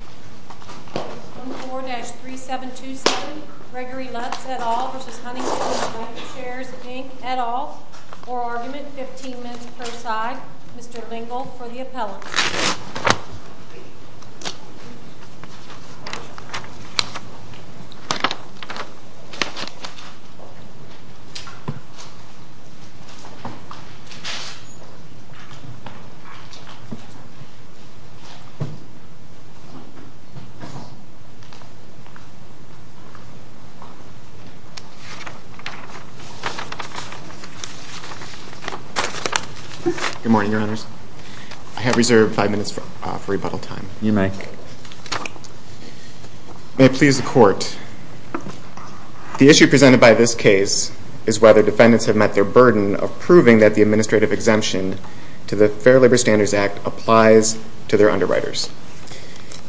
14-3727 Gregory Lutz, et al. v. Huntington Bancshares, Inc., et al. For argument, 15 minutes per side. Mr. Lingle for the appellate. Good morning, Your Honors. I have reserved five minutes for rebuttal time. You may. May it please the Court. The issue presented by this case is whether defendants have met their burden of proving that the administrative exemption to the Fair Labor Standards Act applies to their underwriters.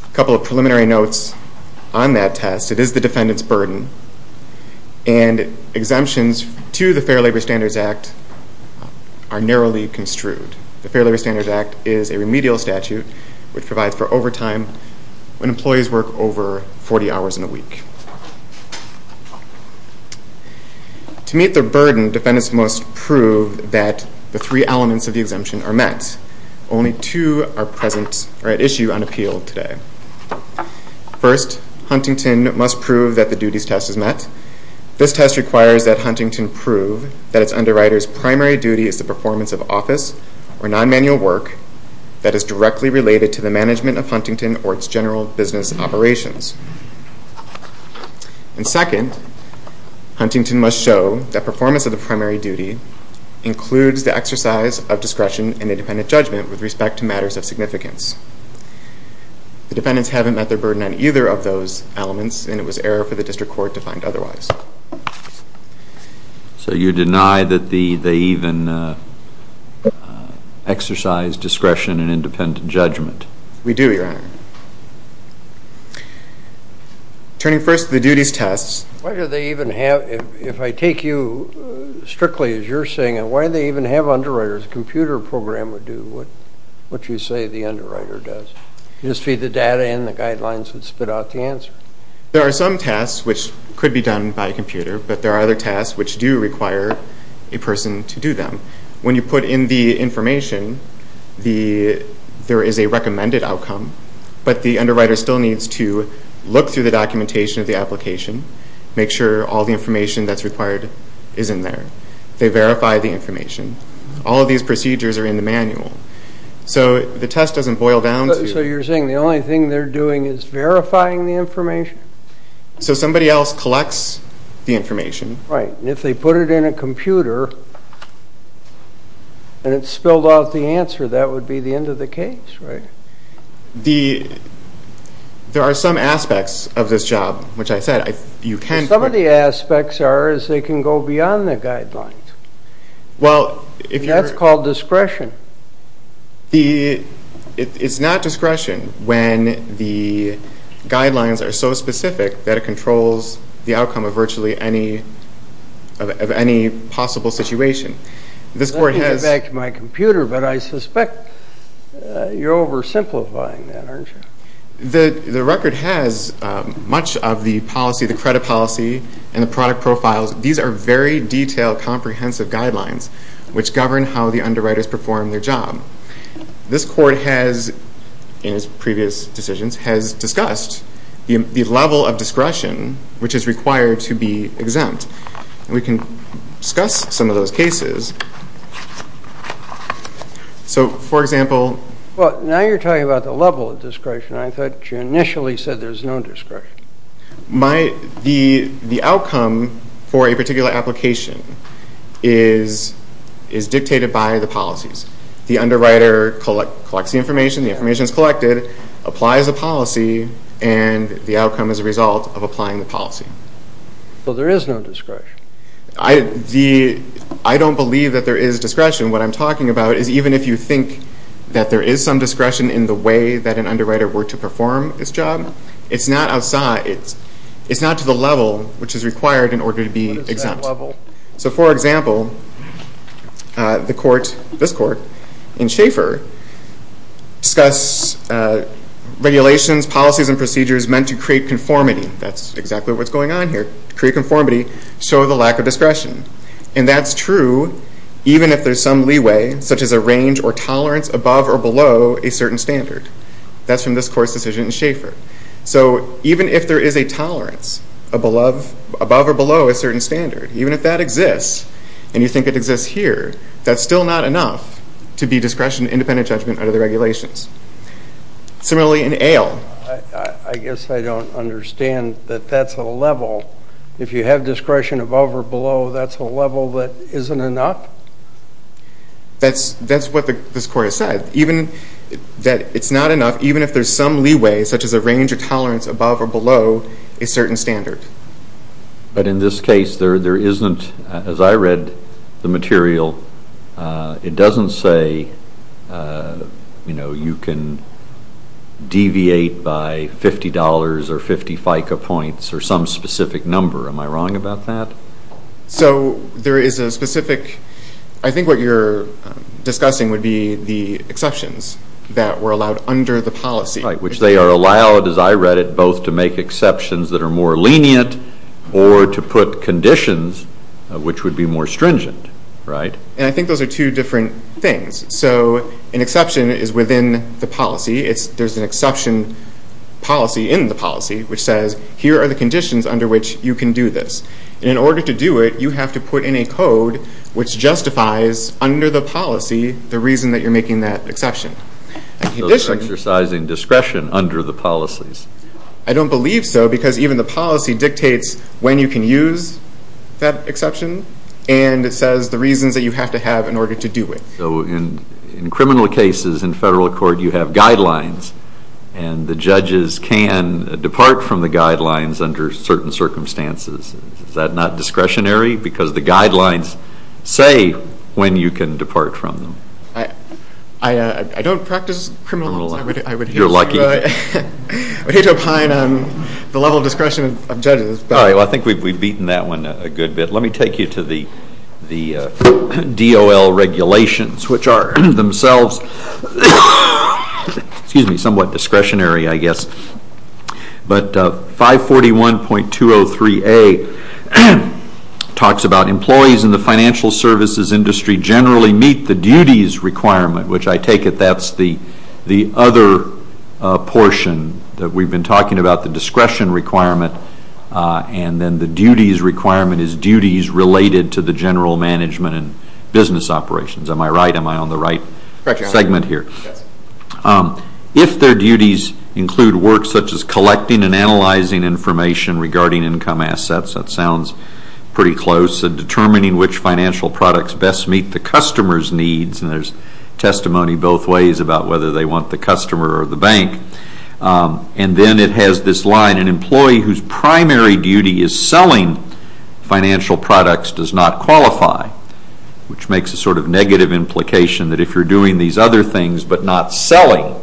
A couple of preliminary notes on that test. It is the defendant's burden, and exemptions to the Fair Labor Standards Act are narrowly construed. The Fair Labor Standards Act is a remedial statute which provides for overtime when employees work over 40 hours in a week. To meet their burden, defendants must prove that the three elements of the exemption are met. Only two are at issue on appeal today. First, Huntington must prove that the duties test is met. This test requires that Huntington prove that its underwriter's primary duty is the performance of office or non-manual work that is directly related to the management of Huntington or its general business operations. And second, Huntington must show that performance of the primary duty includes the exercise of discretion and independent judgment with respect to matters of significance. The defendants haven't met their burden on either of those elements, and it was error for the District Court to find otherwise. So you deny that they even exercise discretion and independent judgment? We do, Your Honor. Turning first to the duties tests. Why do they even have, if I take you strictly as you're saying it, why do they even have underwriters? A computer program would do what you say the underwriter does. You just feed the data in, the guidelines would spit out the answer. There are some tasks which could be done by a computer, but there are other tasks which do require a person to do them. When you put in the information, there is a recommended outcome, but the underwriter still needs to look through the documentation of the application, make sure all the information that's required is in there. They verify the information. All of these procedures are in the manual. So the test doesn't boil down to... So you're saying the only thing they're doing is verifying the information? So somebody else collects the information. Right, and if they put it in a computer and it spilled out the answer, that would be the end of the case, right? There are some aspects of this job, which I said you can... Some of the aspects are they can go beyond the guidelines. That's called discretion. It's not discretion when the guidelines are so specific that it controls the outcome of virtually any possible situation. Let me get back to my computer, but I suspect you're oversimplifying that, aren't you? The record has much of the policy, the credit policy, and the product profiles. These are very detailed, comprehensive guidelines which govern how the underwriters perform their job. This court has, in its previous decisions, has discussed the level of discretion which is required to be exempt. We can discuss some of those cases. So, for example... Well, now you're talking about the level of discretion. I thought you initially said there's no discretion. The outcome for a particular application is dictated by the policies. The underwriter collects the information. The information is collected, applies a policy, and the outcome is a result of applying the policy. Well, there is no discretion. I don't believe that there is discretion. What I'm talking about is even if you think that there is some discretion in the way that an underwriter were to perform this job, it's not to the level which is required in order to be exempt. So, for example, this court in Schaefer discuss regulations, policies, and procedures meant to create conformity. That's exactly what's going on here. To create conformity, show the lack of discretion. And that's true even if there's some leeway, such as a range or tolerance above or below a certain standard. That's from this court's decision in Schaefer. So, even if there is a tolerance above or below a certain standard, even if that exists and you think it exists here, that's still not enough to be discretion independent judgment under the regulations. Similarly, in Ale. I guess I don't understand that that's a level. If you have discretion above or below, that's a level that isn't enough? That's what this court has said. That it's not enough even if there's some leeway, such as a range or tolerance above or below a certain standard. But in this case, there isn't, as I read the material, it doesn't say you can deviate by $50 or 50 FICA points or some specific number. Am I wrong about that? So, there is a specific, I think what you're discussing would be the exceptions that were allowed under the policy. Right, which they are allowed, as I read it, both to make exceptions that are more lenient or to put conditions which would be more stringent, right? And I think those are two different things. So, an exception is within the policy. There's an exception policy in the policy which says here are the conditions under which you can do this. And in order to do it, you have to put in a code which justifies, under the policy, the reason that you're making that exception. So, they're exercising discretion under the policies. I don't believe so, because even the policy dictates when you can use that exception and it says the reasons that you have to have in order to do it. So, in criminal cases, in federal court, you have guidelines and the judges can depart from the guidelines under certain circumstances. Is that not discretionary? Because the guidelines say when you can depart from them. I don't practice criminal law. You're lucky. I hate to opine on the level of discretion of judges. All right, well, I think we've beaten that one a good bit. Let me take you to the DOL regulations, which are themselves somewhat discretionary, I guess. But 541.203A talks about employees in the financial services industry generally meet the duties requirement, which I take it that's the other portion that we've been talking about, the discretion requirement. And then the duties requirement is duties related to the general management and business operations. Am I right? Correct. Segment here. If their duties include work such as collecting and analyzing information regarding income assets, that sounds pretty close, and determining which financial products best meet the customer's needs, and there's testimony both ways about whether they want the customer or the bank. And then it has this line, an employee whose primary duty is selling financial products does not qualify, which makes a sort of negative implication that if you're doing these other things but not selling,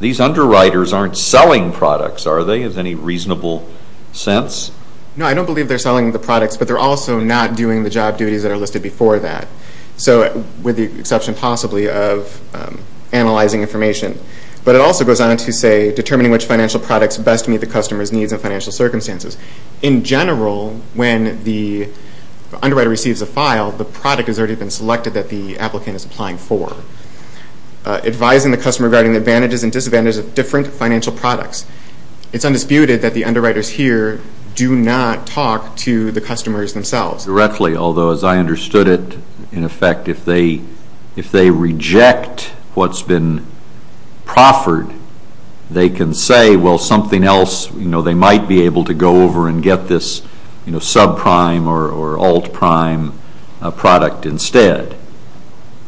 these underwriters aren't selling products, are they, in any reasonable sense? No, I don't believe they're selling the products, but they're also not doing the job duties that are listed before that, with the exception possibly of analyzing information. But it also goes on to say determining which financial products best meet the customer's needs and financial circumstances. In general, when the underwriter receives a file, the product has already been selected that the applicant is applying for. Advising the customer regarding the advantages and disadvantages of different financial products. It's undisputed that the underwriters here do not talk to the customers themselves. Directly, although as I understood it, in effect, if they reject what's been proffered, they can say, well, something else, they might be able to go over and get this subprime or altprime product instead.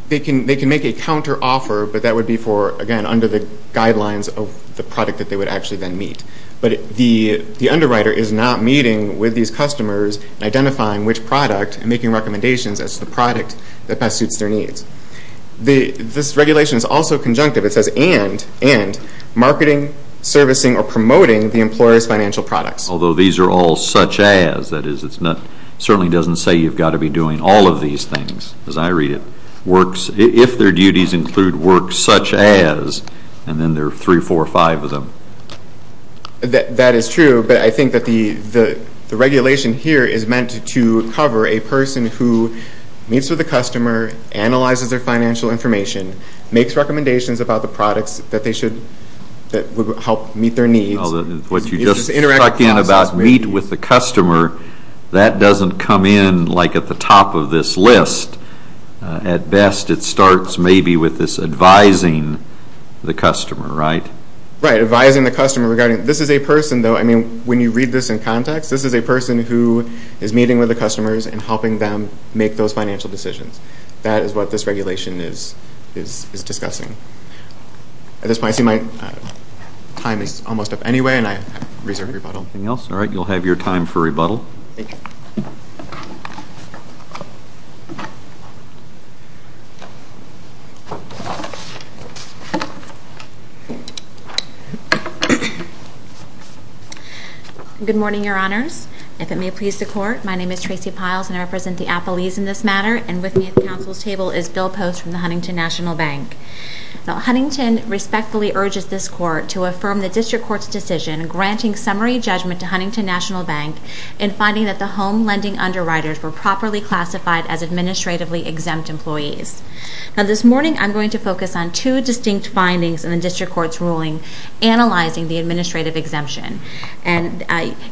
They can make a counteroffer, but that would be for, again, under the guidelines of the product that they would actually then meet. But the underwriter is not meeting with these customers and identifying which product and making recommendations as to the product that best suits their needs. This regulation is also conjunctive. It says, and marketing, servicing, or promoting the employer's financial products. Although these are all such as. That is, it certainly doesn't say you've got to be doing all of these things. As I read it, if their duties include work such as, and then there are three, four, five of them. That is true, but I think that the regulation here is meant to cover a person who meets with a customer, analyzes their financial information, makes recommendations about the products that would help meet their needs. What you just struck in about meet with the customer, that doesn't come in at the top of this list. At best, it starts maybe with this advising the customer, right? Right, advising the customer. This is a person, though, when you read this in context, this is a person who is meeting with the customers and helping them make those financial decisions. That is what this regulation is discussing. At this point, I see my time is almost up anyway, and I reserve rebuttal. Anything else? All right, you'll have your time for rebuttal. Thank you. Good morning, Your Honors. If it may please the Court, my name is Tracy Piles, and I represent the appellees in this matter. And with me at the Council's table is Bill Post from the Huntington National Bank. Now, Huntington respectfully urges this Court to affirm the District Court's decision granting summary judgment to Huntington National Bank in finding that the home lending underwriters were properly classified as administratively exempt employees. Now, this morning, I'm going to focus on two distinct findings in the District Court's ruling analyzing the administrative exemption. And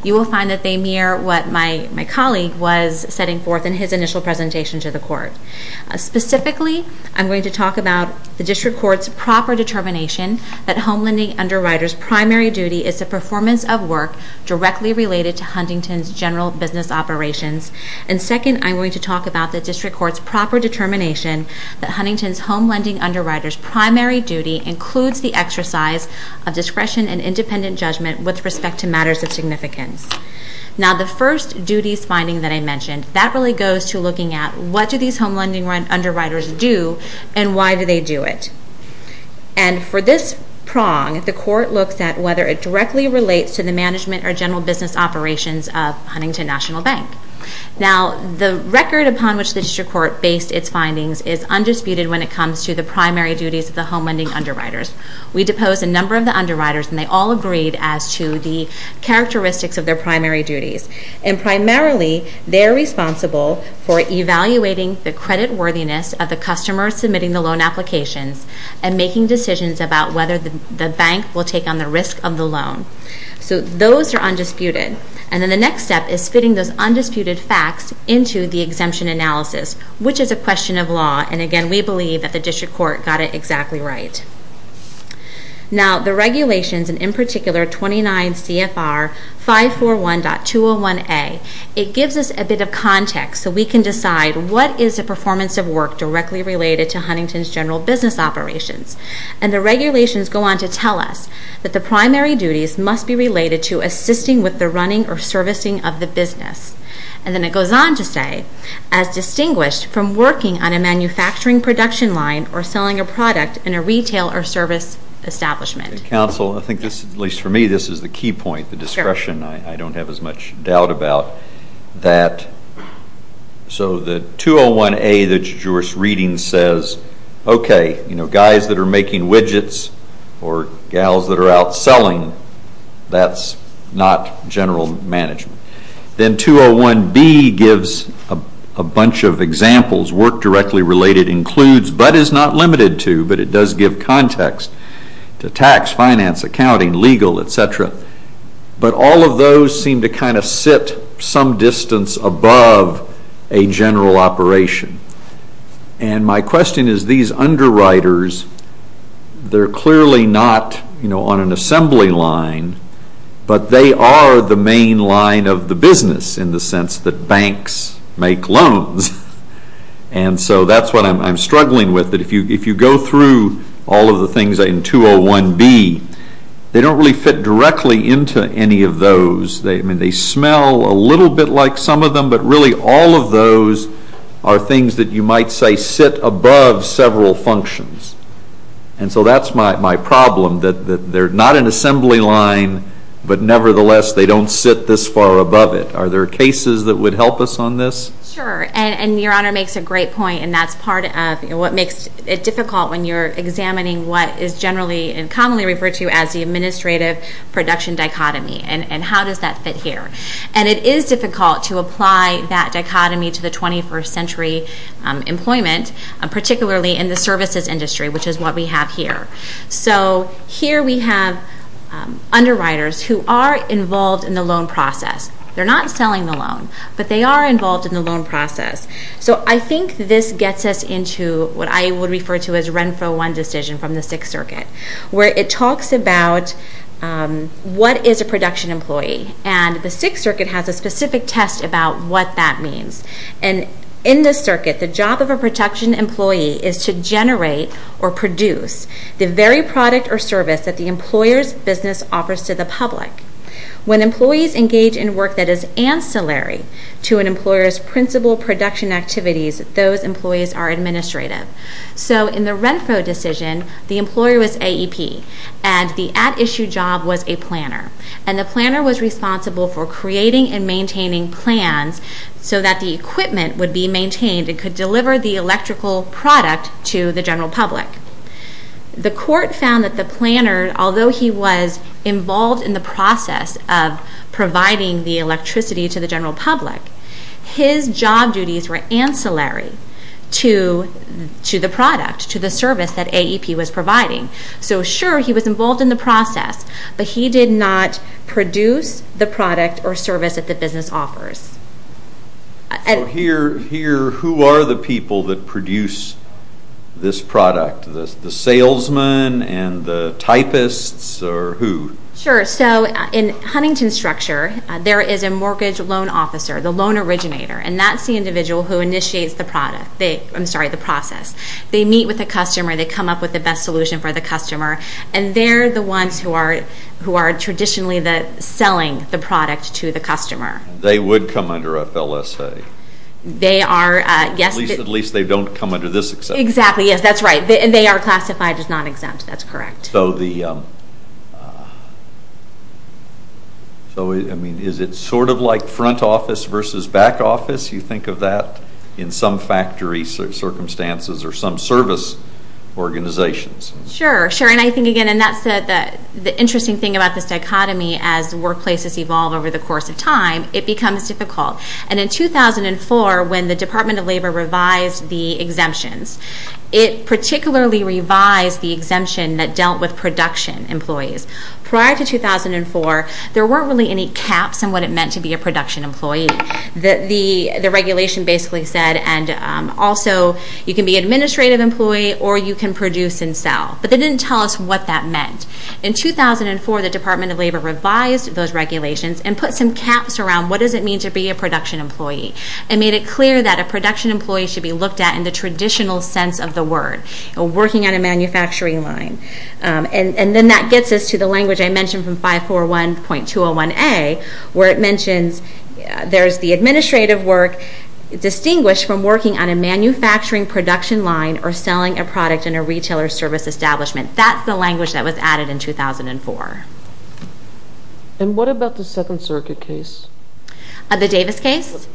you will find that they mirror what my colleague was setting forth in his initial presentation to the Court. Specifically, I'm going to talk about the District Court's proper determination that home lending underwriters' primary duty is the performance of work directly related to Huntington's general business operations. And second, I'm going to talk about the District Court's proper determination that Huntington's home lending underwriters' primary duty includes the exercise of discretion and independent judgment with respect to matters of significance. Now, the first duties finding that I mentioned, that really goes to looking at what do these home lending underwriters do and why do they do it. And for this prong, the Court looks at whether it directly relates to the management or general business operations of Huntington National Bank. Now, the record upon which the District Court based its findings is undisputed when it comes to the primary duties of the home lending underwriters. We deposed a number of the underwriters, and they all agreed as to the characteristics of their primary duties. And primarily, they're responsible for evaluating the creditworthiness of the customer submitting the loan applications and making decisions about whether the bank will take on the risk of the loan. So those are undisputed. And then the next step is fitting those undisputed facts into the exemption analysis, which is a question of law. And again, we believe that the District Court got it exactly right. Now, the regulations, and in particular 29 CFR 541.201A, it gives us a bit of context so we can decide what is the performance of work directly related to Huntington's general business operations. And the regulations go on to tell us that the primary duties must be related to assisting with the running or servicing of the business. And then it goes on to say, as distinguished from working on a manufacturing production line or selling a product in a retail or service establishment. Counsel, I think this, at least for me, this is the key point, the discretion. I don't have as much doubt about that. So the 201A that you're reading says, okay, guys that are making widgets or gals that are out selling, that's not general management. Then 201B gives a bunch of examples. Work directly related includes, but is not limited to, but it does give context to tax, finance, accounting, legal, etc. But all of those seem to kind of sit some distance above a general operation. And my question is, these underwriters, they're clearly not on an assembly line, but they are the main line of the business in the sense that banks make loans. And so that's what I'm struggling with. If you go through all of the things in 201B, they don't really fit directly into any of those. They smell a little bit like some of them, but really all of those are things that you might say sit above several functions. And so that's my problem, that they're not an assembly line, but nevertheless they don't sit this far above it. Are there cases that would help us on this? Sure. And Your Honor makes a great point, and that's part of what makes it difficult when you're examining what is generally and commonly referred to as the administrative production dichotomy and how does that fit here. And it is difficult to apply that dichotomy to the 21st century employment, particularly in the services industry, which is what we have here. So here we have underwriters who are involved in the loan process. They're not selling the loan, but they are involved in the loan process. So I think this gets us into what I would refer to as Renfro 1 decision from the Sixth Circuit, where it talks about what is a production employee. And the Sixth Circuit has a specific test about what that means. And in the circuit, the job of a production employee is to generate or produce the very product or service that the employer's business offers to the public. When employees engage in work that is ancillary to an employer's principal production activities, those employees are administrative. So in the Renfro decision, the employer was AEP, and the at-issue job was a planner. And the planner was responsible for creating and maintaining plans so that the equipment would be maintained and could deliver the electrical product to the general public. The court found that the planner, although he was involved in the process of providing the electricity to the general public, his job duties were ancillary to the product, to the service that AEP was providing. So sure, he was involved in the process, but he did not produce the product or service that the business offers. So here, who are the people that produce this product? The salesmen and the typists, or who? Sure, so in Huntington's structure, there is a mortgage loan officer, the loan originator, and that's the individual who initiates the process. They meet with the customer, they come up with the best solution for the customer, and they're the ones who are traditionally selling the product to the customer. They would come under FLSA. They are, yes. At least they don't come under this exemption. Exactly, yes, that's right. They are classified as non-exempt, that's correct. So is it sort of like front office versus back office? You think of that in some factory circumstances or some service organizations? Sure, sure, and I think again, and that's the interesting thing about this dichotomy, as workplaces evolve over the course of time, it becomes difficult. And in 2004, when the Department of Labor revised the exemptions, it particularly revised the exemption that dealt with production employees. Prior to 2004, there weren't really any caps on what it meant to be a production employee. The regulation basically said, and also, you can be an administrative employee or you can produce and sell. But they didn't tell us what that meant. In 2004, the Department of Labor revised those regulations and put some caps around what does it mean to be a production employee and made it clear that a production employee should be looked at in the traditional sense of the word, working on a manufacturing line. And then that gets us to the language I mentioned from 541.201A, where it mentions there's the administrative work distinguished from working on a manufacturing production line or selling a product in a retailer service establishment. That's the language that was added in 2004. And what about the Second Circuit case? The Davis case?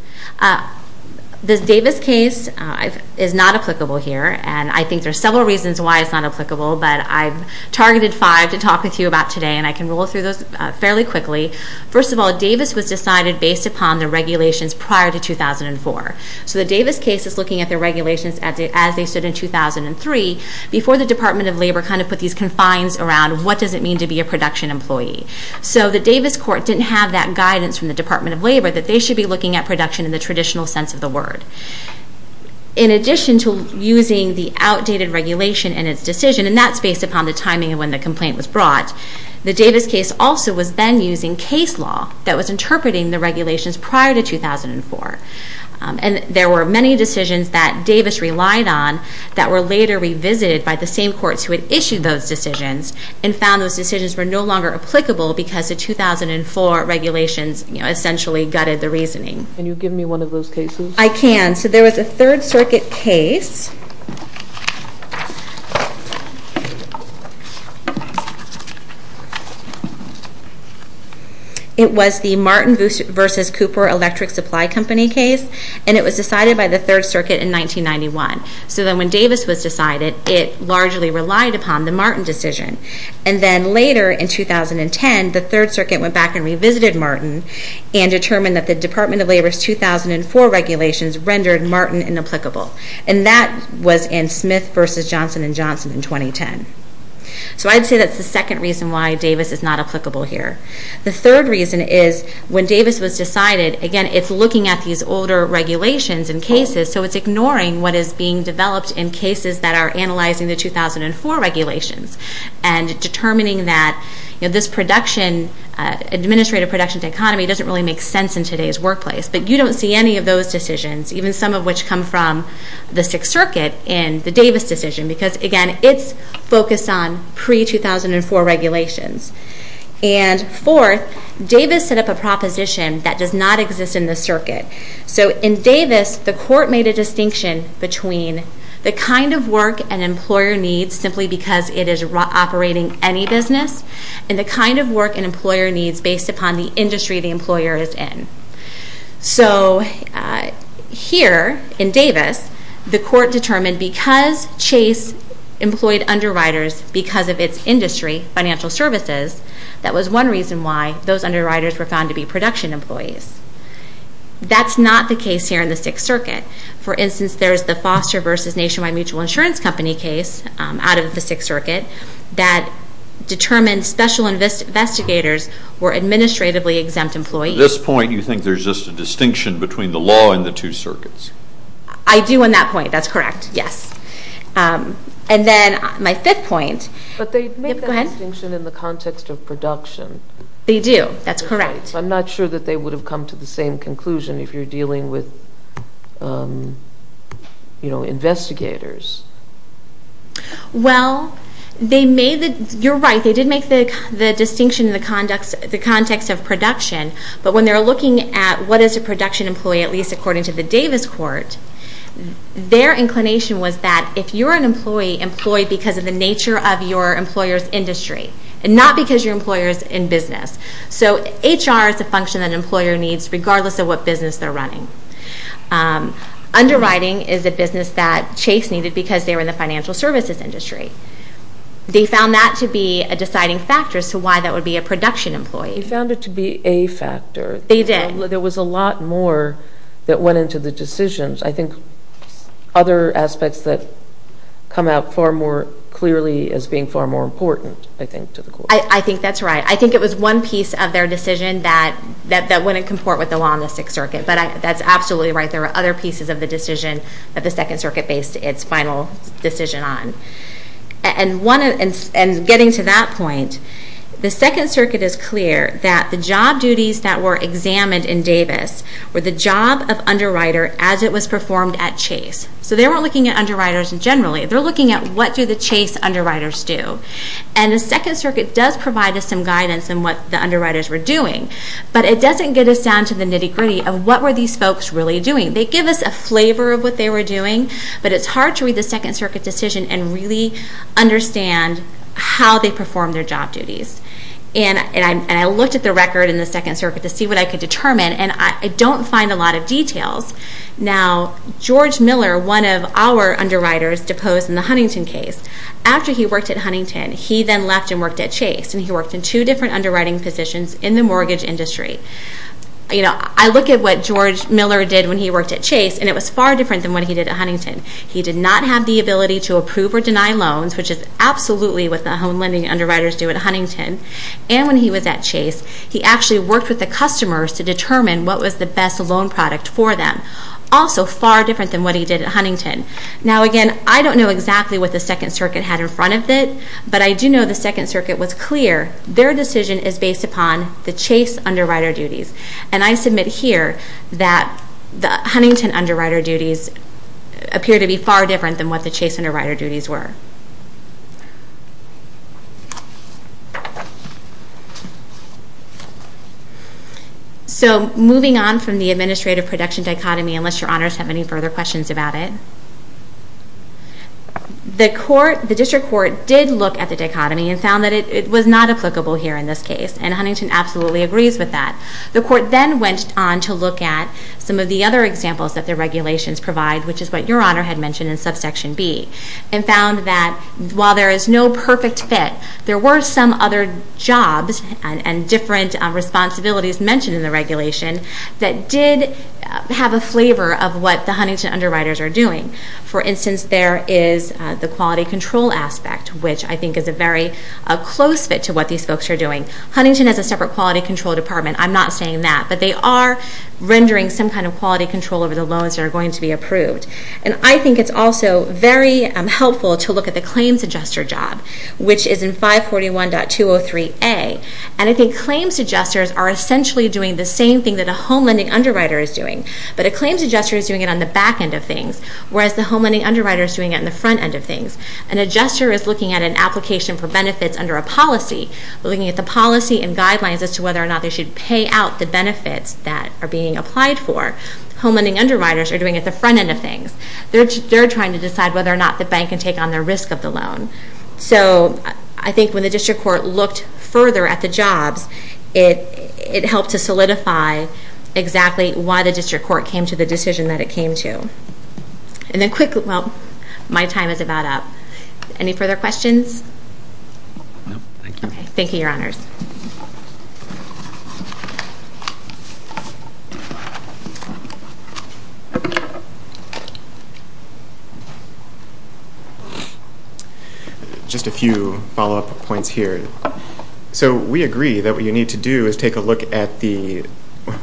The Davis case is not applicable here, and I think there are several reasons why it's not applicable, but I've targeted five to talk with you about today, and I can roll through those fairly quickly. First of all, Davis was decided based upon the regulations prior to 2004. So the Davis case is looking at the regulations as they stood in 2003, before the Department of Labor kind of put these confines around what does it mean to be a production employee. So the Davis court didn't have that guidance from the Department of Labor that they should be looking at production in the traditional sense of the word. In addition to using the outdated regulation in its decision, and that's based upon the timing of when the complaint was brought, the Davis case also was then using case law that was interpreting the regulations prior to 2004. And there were many decisions that Davis relied on that were later revisited by the same courts who had issued those decisions and found those decisions were no longer applicable because the 2004 regulations essentially gutted the reasoning. Can you give me one of those cases? I can. So there was a Third Circuit case. It was the Martin v. Cooper Electric Supply Company case, and it was decided by the Third Circuit in 1991. So then when Davis was decided, it largely relied upon the Martin decision. And then later in 2010, the Third Circuit went back and revisited Martin and determined that the Department of Labor's 2004 regulations rendered Martin inapplicable. And that was in Smith v. Johnson & Johnson in 2010. So I'd say that's the second reason why Davis is not applicable here. The third reason is when Davis was decided, again, it's looking at these older regulations and cases, so it's ignoring what is being developed in cases that are analyzing the 2004 regulations and determining that this administrative production to economy doesn't really make sense in today's workplace. But you don't see any of those decisions, even some of which come from the Sixth Circuit in the Davis decision because, again, it's focused on pre-2004 regulations. And fourth, Davis set up a proposition that does not exist in the circuit. So in Davis, the court made a distinction between the kind of work an employer needs simply because it is operating any business and the kind of work an employer needs based upon the industry the employer is in. So here in Davis, the court determined because Chase employed underwriters because of its industry, financial services, that was one reason why those underwriters were found to be production employees. That's not the case here in the Sixth Circuit. For instance, there is the Foster v. Nationwide Mutual Insurance Company case out of the Sixth Circuit that determined special investigators were administratively exempt employees. At this point, you think there's just a distinction between the law and the two circuits? I do on that point. That's correct, yes. And then my fifth point. But they make that distinction in the context of production. They do. That's correct. I'm not sure that they would have come to the same conclusion if you're dealing with investigators. Well, you're right. They did make the distinction in the context of production. But when they were looking at what is a production employee, at least according to the Davis court, their inclination was that if you're an employee, employ because of the nature of your employer's industry and not because your employer is in business. So HR is a function that an employer needs regardless of what business they're running. Underwriting is a business that Chase needed because they were in the financial services industry. They found that to be a deciding factor as to why that would be a production employee. They found it to be a factor. They did. There was a lot more that went into the decisions. I think other aspects that come out far more clearly as being far more important, I think, to the court. I think that's right. I think it was one piece of their decision that wouldn't comport with the law in the Sixth Circuit. But that's absolutely right. There were other pieces of the decision that the Second Circuit based its final decision on. And getting to that point, the Second Circuit is clear that the job duties that were examined in Davis were the job of underwriter as it was performed at Chase. So they weren't looking at underwriters generally. They're looking at what do the Chase underwriters do. And the Second Circuit does provide us some guidance on what the underwriters were doing. But it doesn't get us down to the nitty-gritty of what were these folks really doing. They give us a flavor of what they were doing, but it's hard to read the Second Circuit decision and really understand how they performed their job duties. And I looked at the record in the Second Circuit to see what I could determine, and I don't find a lot of details. Now, George Miller, one of our underwriters, deposed in the Huntington case. After he worked at Huntington, he then left and worked at Chase, and he worked in two different underwriting positions in the mortgage industry. I look at what George Miller did when he worked at Chase, and it was far different than what he did at Huntington. He did not have the ability to approve or deny loans, which is absolutely what the home lending underwriters do at Huntington. And when he was at Chase, he actually worked with the customers to determine what was the best loan product for them, also far different than what he did at Huntington. Now, again, I don't know exactly what the Second Circuit had in front of it, but I do know the Second Circuit was clear. Their decision is based upon the Chase underwriter duties. And I submit here that the Huntington underwriter duties appear to be far different than what the Chase underwriter duties were. So moving on from the administrative production dichotomy, unless Your Honors have any further questions about it. The District Court did look at the dichotomy and found that it was not applicable here in this case, and Huntington absolutely agrees with that. The Court then went on to look at some of the other examples that the regulations provide, which is what Your Honor had mentioned in subsection B, and found that while there is no perfect fit, there were some other jobs and different responsibilities mentioned in the regulation that did have a flavor of what the Huntington underwriters are doing. For instance, there is the quality control aspect, which I think is a very close fit to what these folks are doing. Huntington has a separate quality control department. I'm not saying that. But they are rendering some kind of quality control over the loans that are going to be approved. And I think it's also very helpful to look at the claims adjuster job, which is in 541.203A. And I think claims adjusters are essentially doing the same thing that a home lending underwriter is doing, but a claims adjuster is doing it on the back end of things, whereas the home lending underwriter is doing it on the front end of things. An adjuster is looking at an application for benefits under a policy, looking at the policy and guidelines as to whether or not they should pay out the benefits that are being applied for. Home lending underwriters are doing it at the front end of things. They're trying to decide whether or not the bank can take on the risk of the loan. So I think when the district court looked further at the jobs, it helped to solidify exactly why the district court came to the decision that it came to. And then quickly, well, my time is about up. Any further questions? No, thank you. Thank you, Your Honors. Just a few follow-up points here. So we agree that what you need to do is take a look at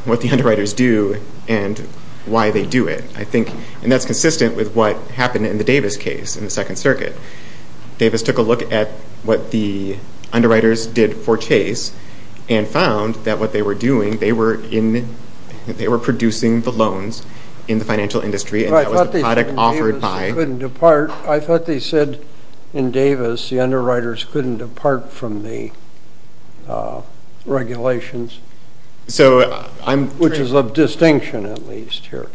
what the underwriters do and why they do it. And that's consistent with what happened in the Davis case in the Second Circuit. Davis took a look at what the underwriters did for Chase and found that what they were doing, they were producing the loans in the financial industry, and that was the product offered by— In Davis, the underwriters couldn't depart from the regulations, which is of distinction at least here.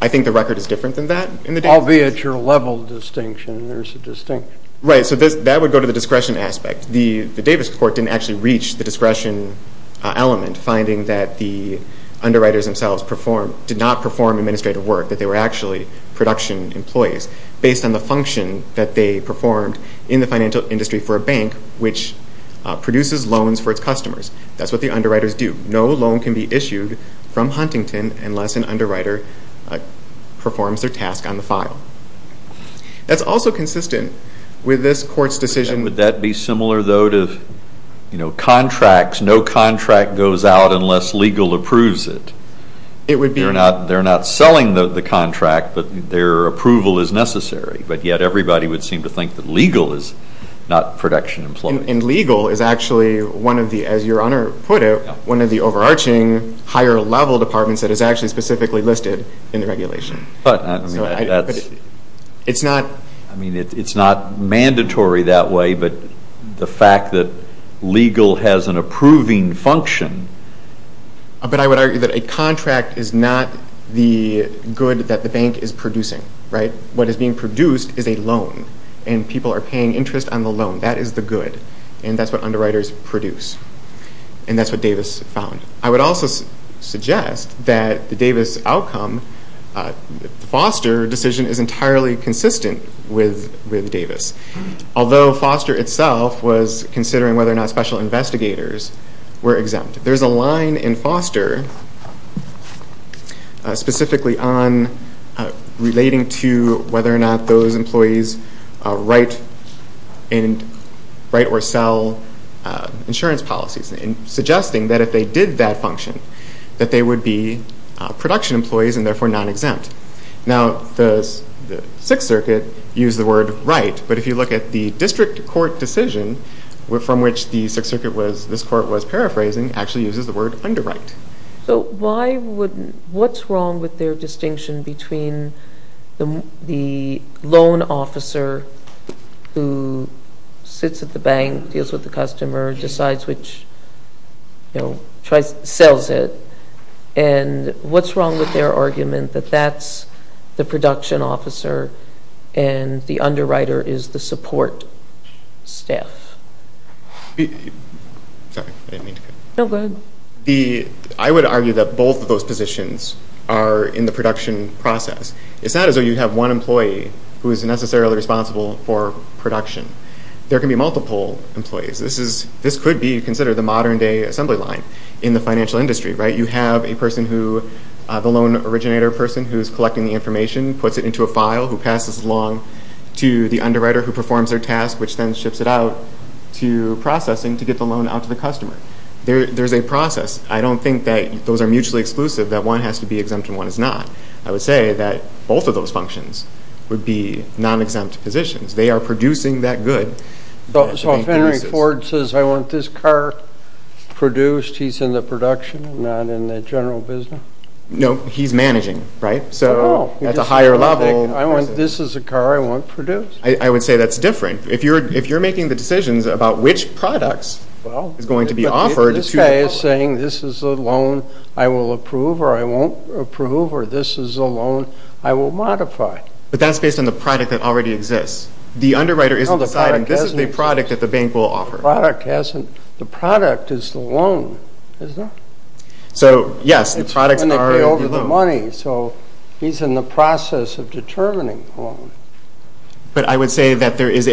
I think the record is different than that in the Davis case. I'll be at your level of distinction, and there's a distinction. Right, so that would go to the discretion aspect. The Davis court didn't actually reach the discretion element, finding that the underwriters themselves did not perform administrative work, that they were actually production employees. Based on the function that they performed in the financial industry for a bank, which produces loans for its customers. That's what the underwriters do. No loan can be issued from Huntington unless an underwriter performs their task on the file. That's also consistent with this court's decision— Would that be similar, though, to contracts? No contract goes out unless legal approves it. It would be— They're not selling the contract, but their approval is necessary, but yet everybody would seem to think that legal is not production employees. And legal is actually, as Your Honor put it, one of the overarching higher-level departments that is actually specifically listed in the regulation. But, I mean, that's— It's not— I mean, it's not mandatory that way, but the fact that legal has an approving function— But I would argue that a contract is not the good that the bank is producing, right? What is being produced is a loan, and people are paying interest on the loan. That is the good, and that's what underwriters produce. And that's what Davis found. I would also suggest that the Davis outcome— The Foster decision is entirely consistent with Davis, although Foster itself was considering whether or not special investigators were exempt. There's a line in Foster specifically on— relating to whether or not those employees write or sell insurance policies, and suggesting that if they did that function, that they would be production employees and therefore non-exempt. Now, the Sixth Circuit used the word right, but if you look at the district court decision from which the Sixth Circuit was— actually uses the word underwrite. So why would— What's wrong with their distinction between the loan officer who sits at the bank, deals with the customer, decides which— you know, tries—sells it, and what's wrong with their argument that that's the production officer and the underwriter is the support staff? Sorry, I didn't mean to— No, go ahead. I would argue that both of those positions are in the production process. It's not as though you have one employee who is necessarily responsible for production. There can be multiple employees. This could be considered the modern-day assembly line in the financial industry, right? You have a person who—the loan originator person who is collecting the information, puts it into a file, who passes it along to the underwriter who performs their task, which then ships it out to processing to get the loan out to the customer. There's a process. I don't think that those are mutually exclusive, that one has to be exempt and one is not. I would say that both of those functions would be non-exempt positions. They are producing that good. So if Henry Ford says, I want this car produced, he's in the production and not in the general business? No, he's managing, right? Oh. So that's a higher level— I want—this is a car I want produced. I would say that's different. If you're making the decisions about which products is going to be offered— This guy is saying this is a loan I will approve or I won't approve or this is a loan I will modify. But that's based on the product that already exists. The underwriter isn't deciding this is the product that the bank will offer. The product is the loan, isn't it? So, yes, the products are the loan. It's going to be over the money, so he's in the process of determining the loan. But I would say that there is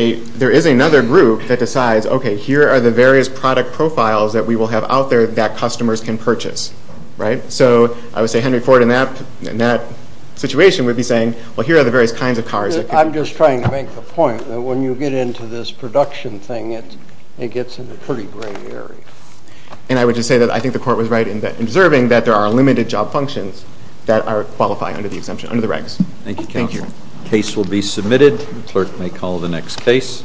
another group that decides, okay, here are the various product profiles that we will have out there that customers can purchase, right? So I would say Henry Ford in that situation would be saying, well, here are the various kinds of cars that could— I'm just trying to make the point that when you get into this production thing, it gets in a pretty gray area. And I would just say that I think the Court was right in observing that there are limited job functions that qualify under the exemption, under the regs. Thank you, counsel. The case will be submitted. The clerk may call the next case.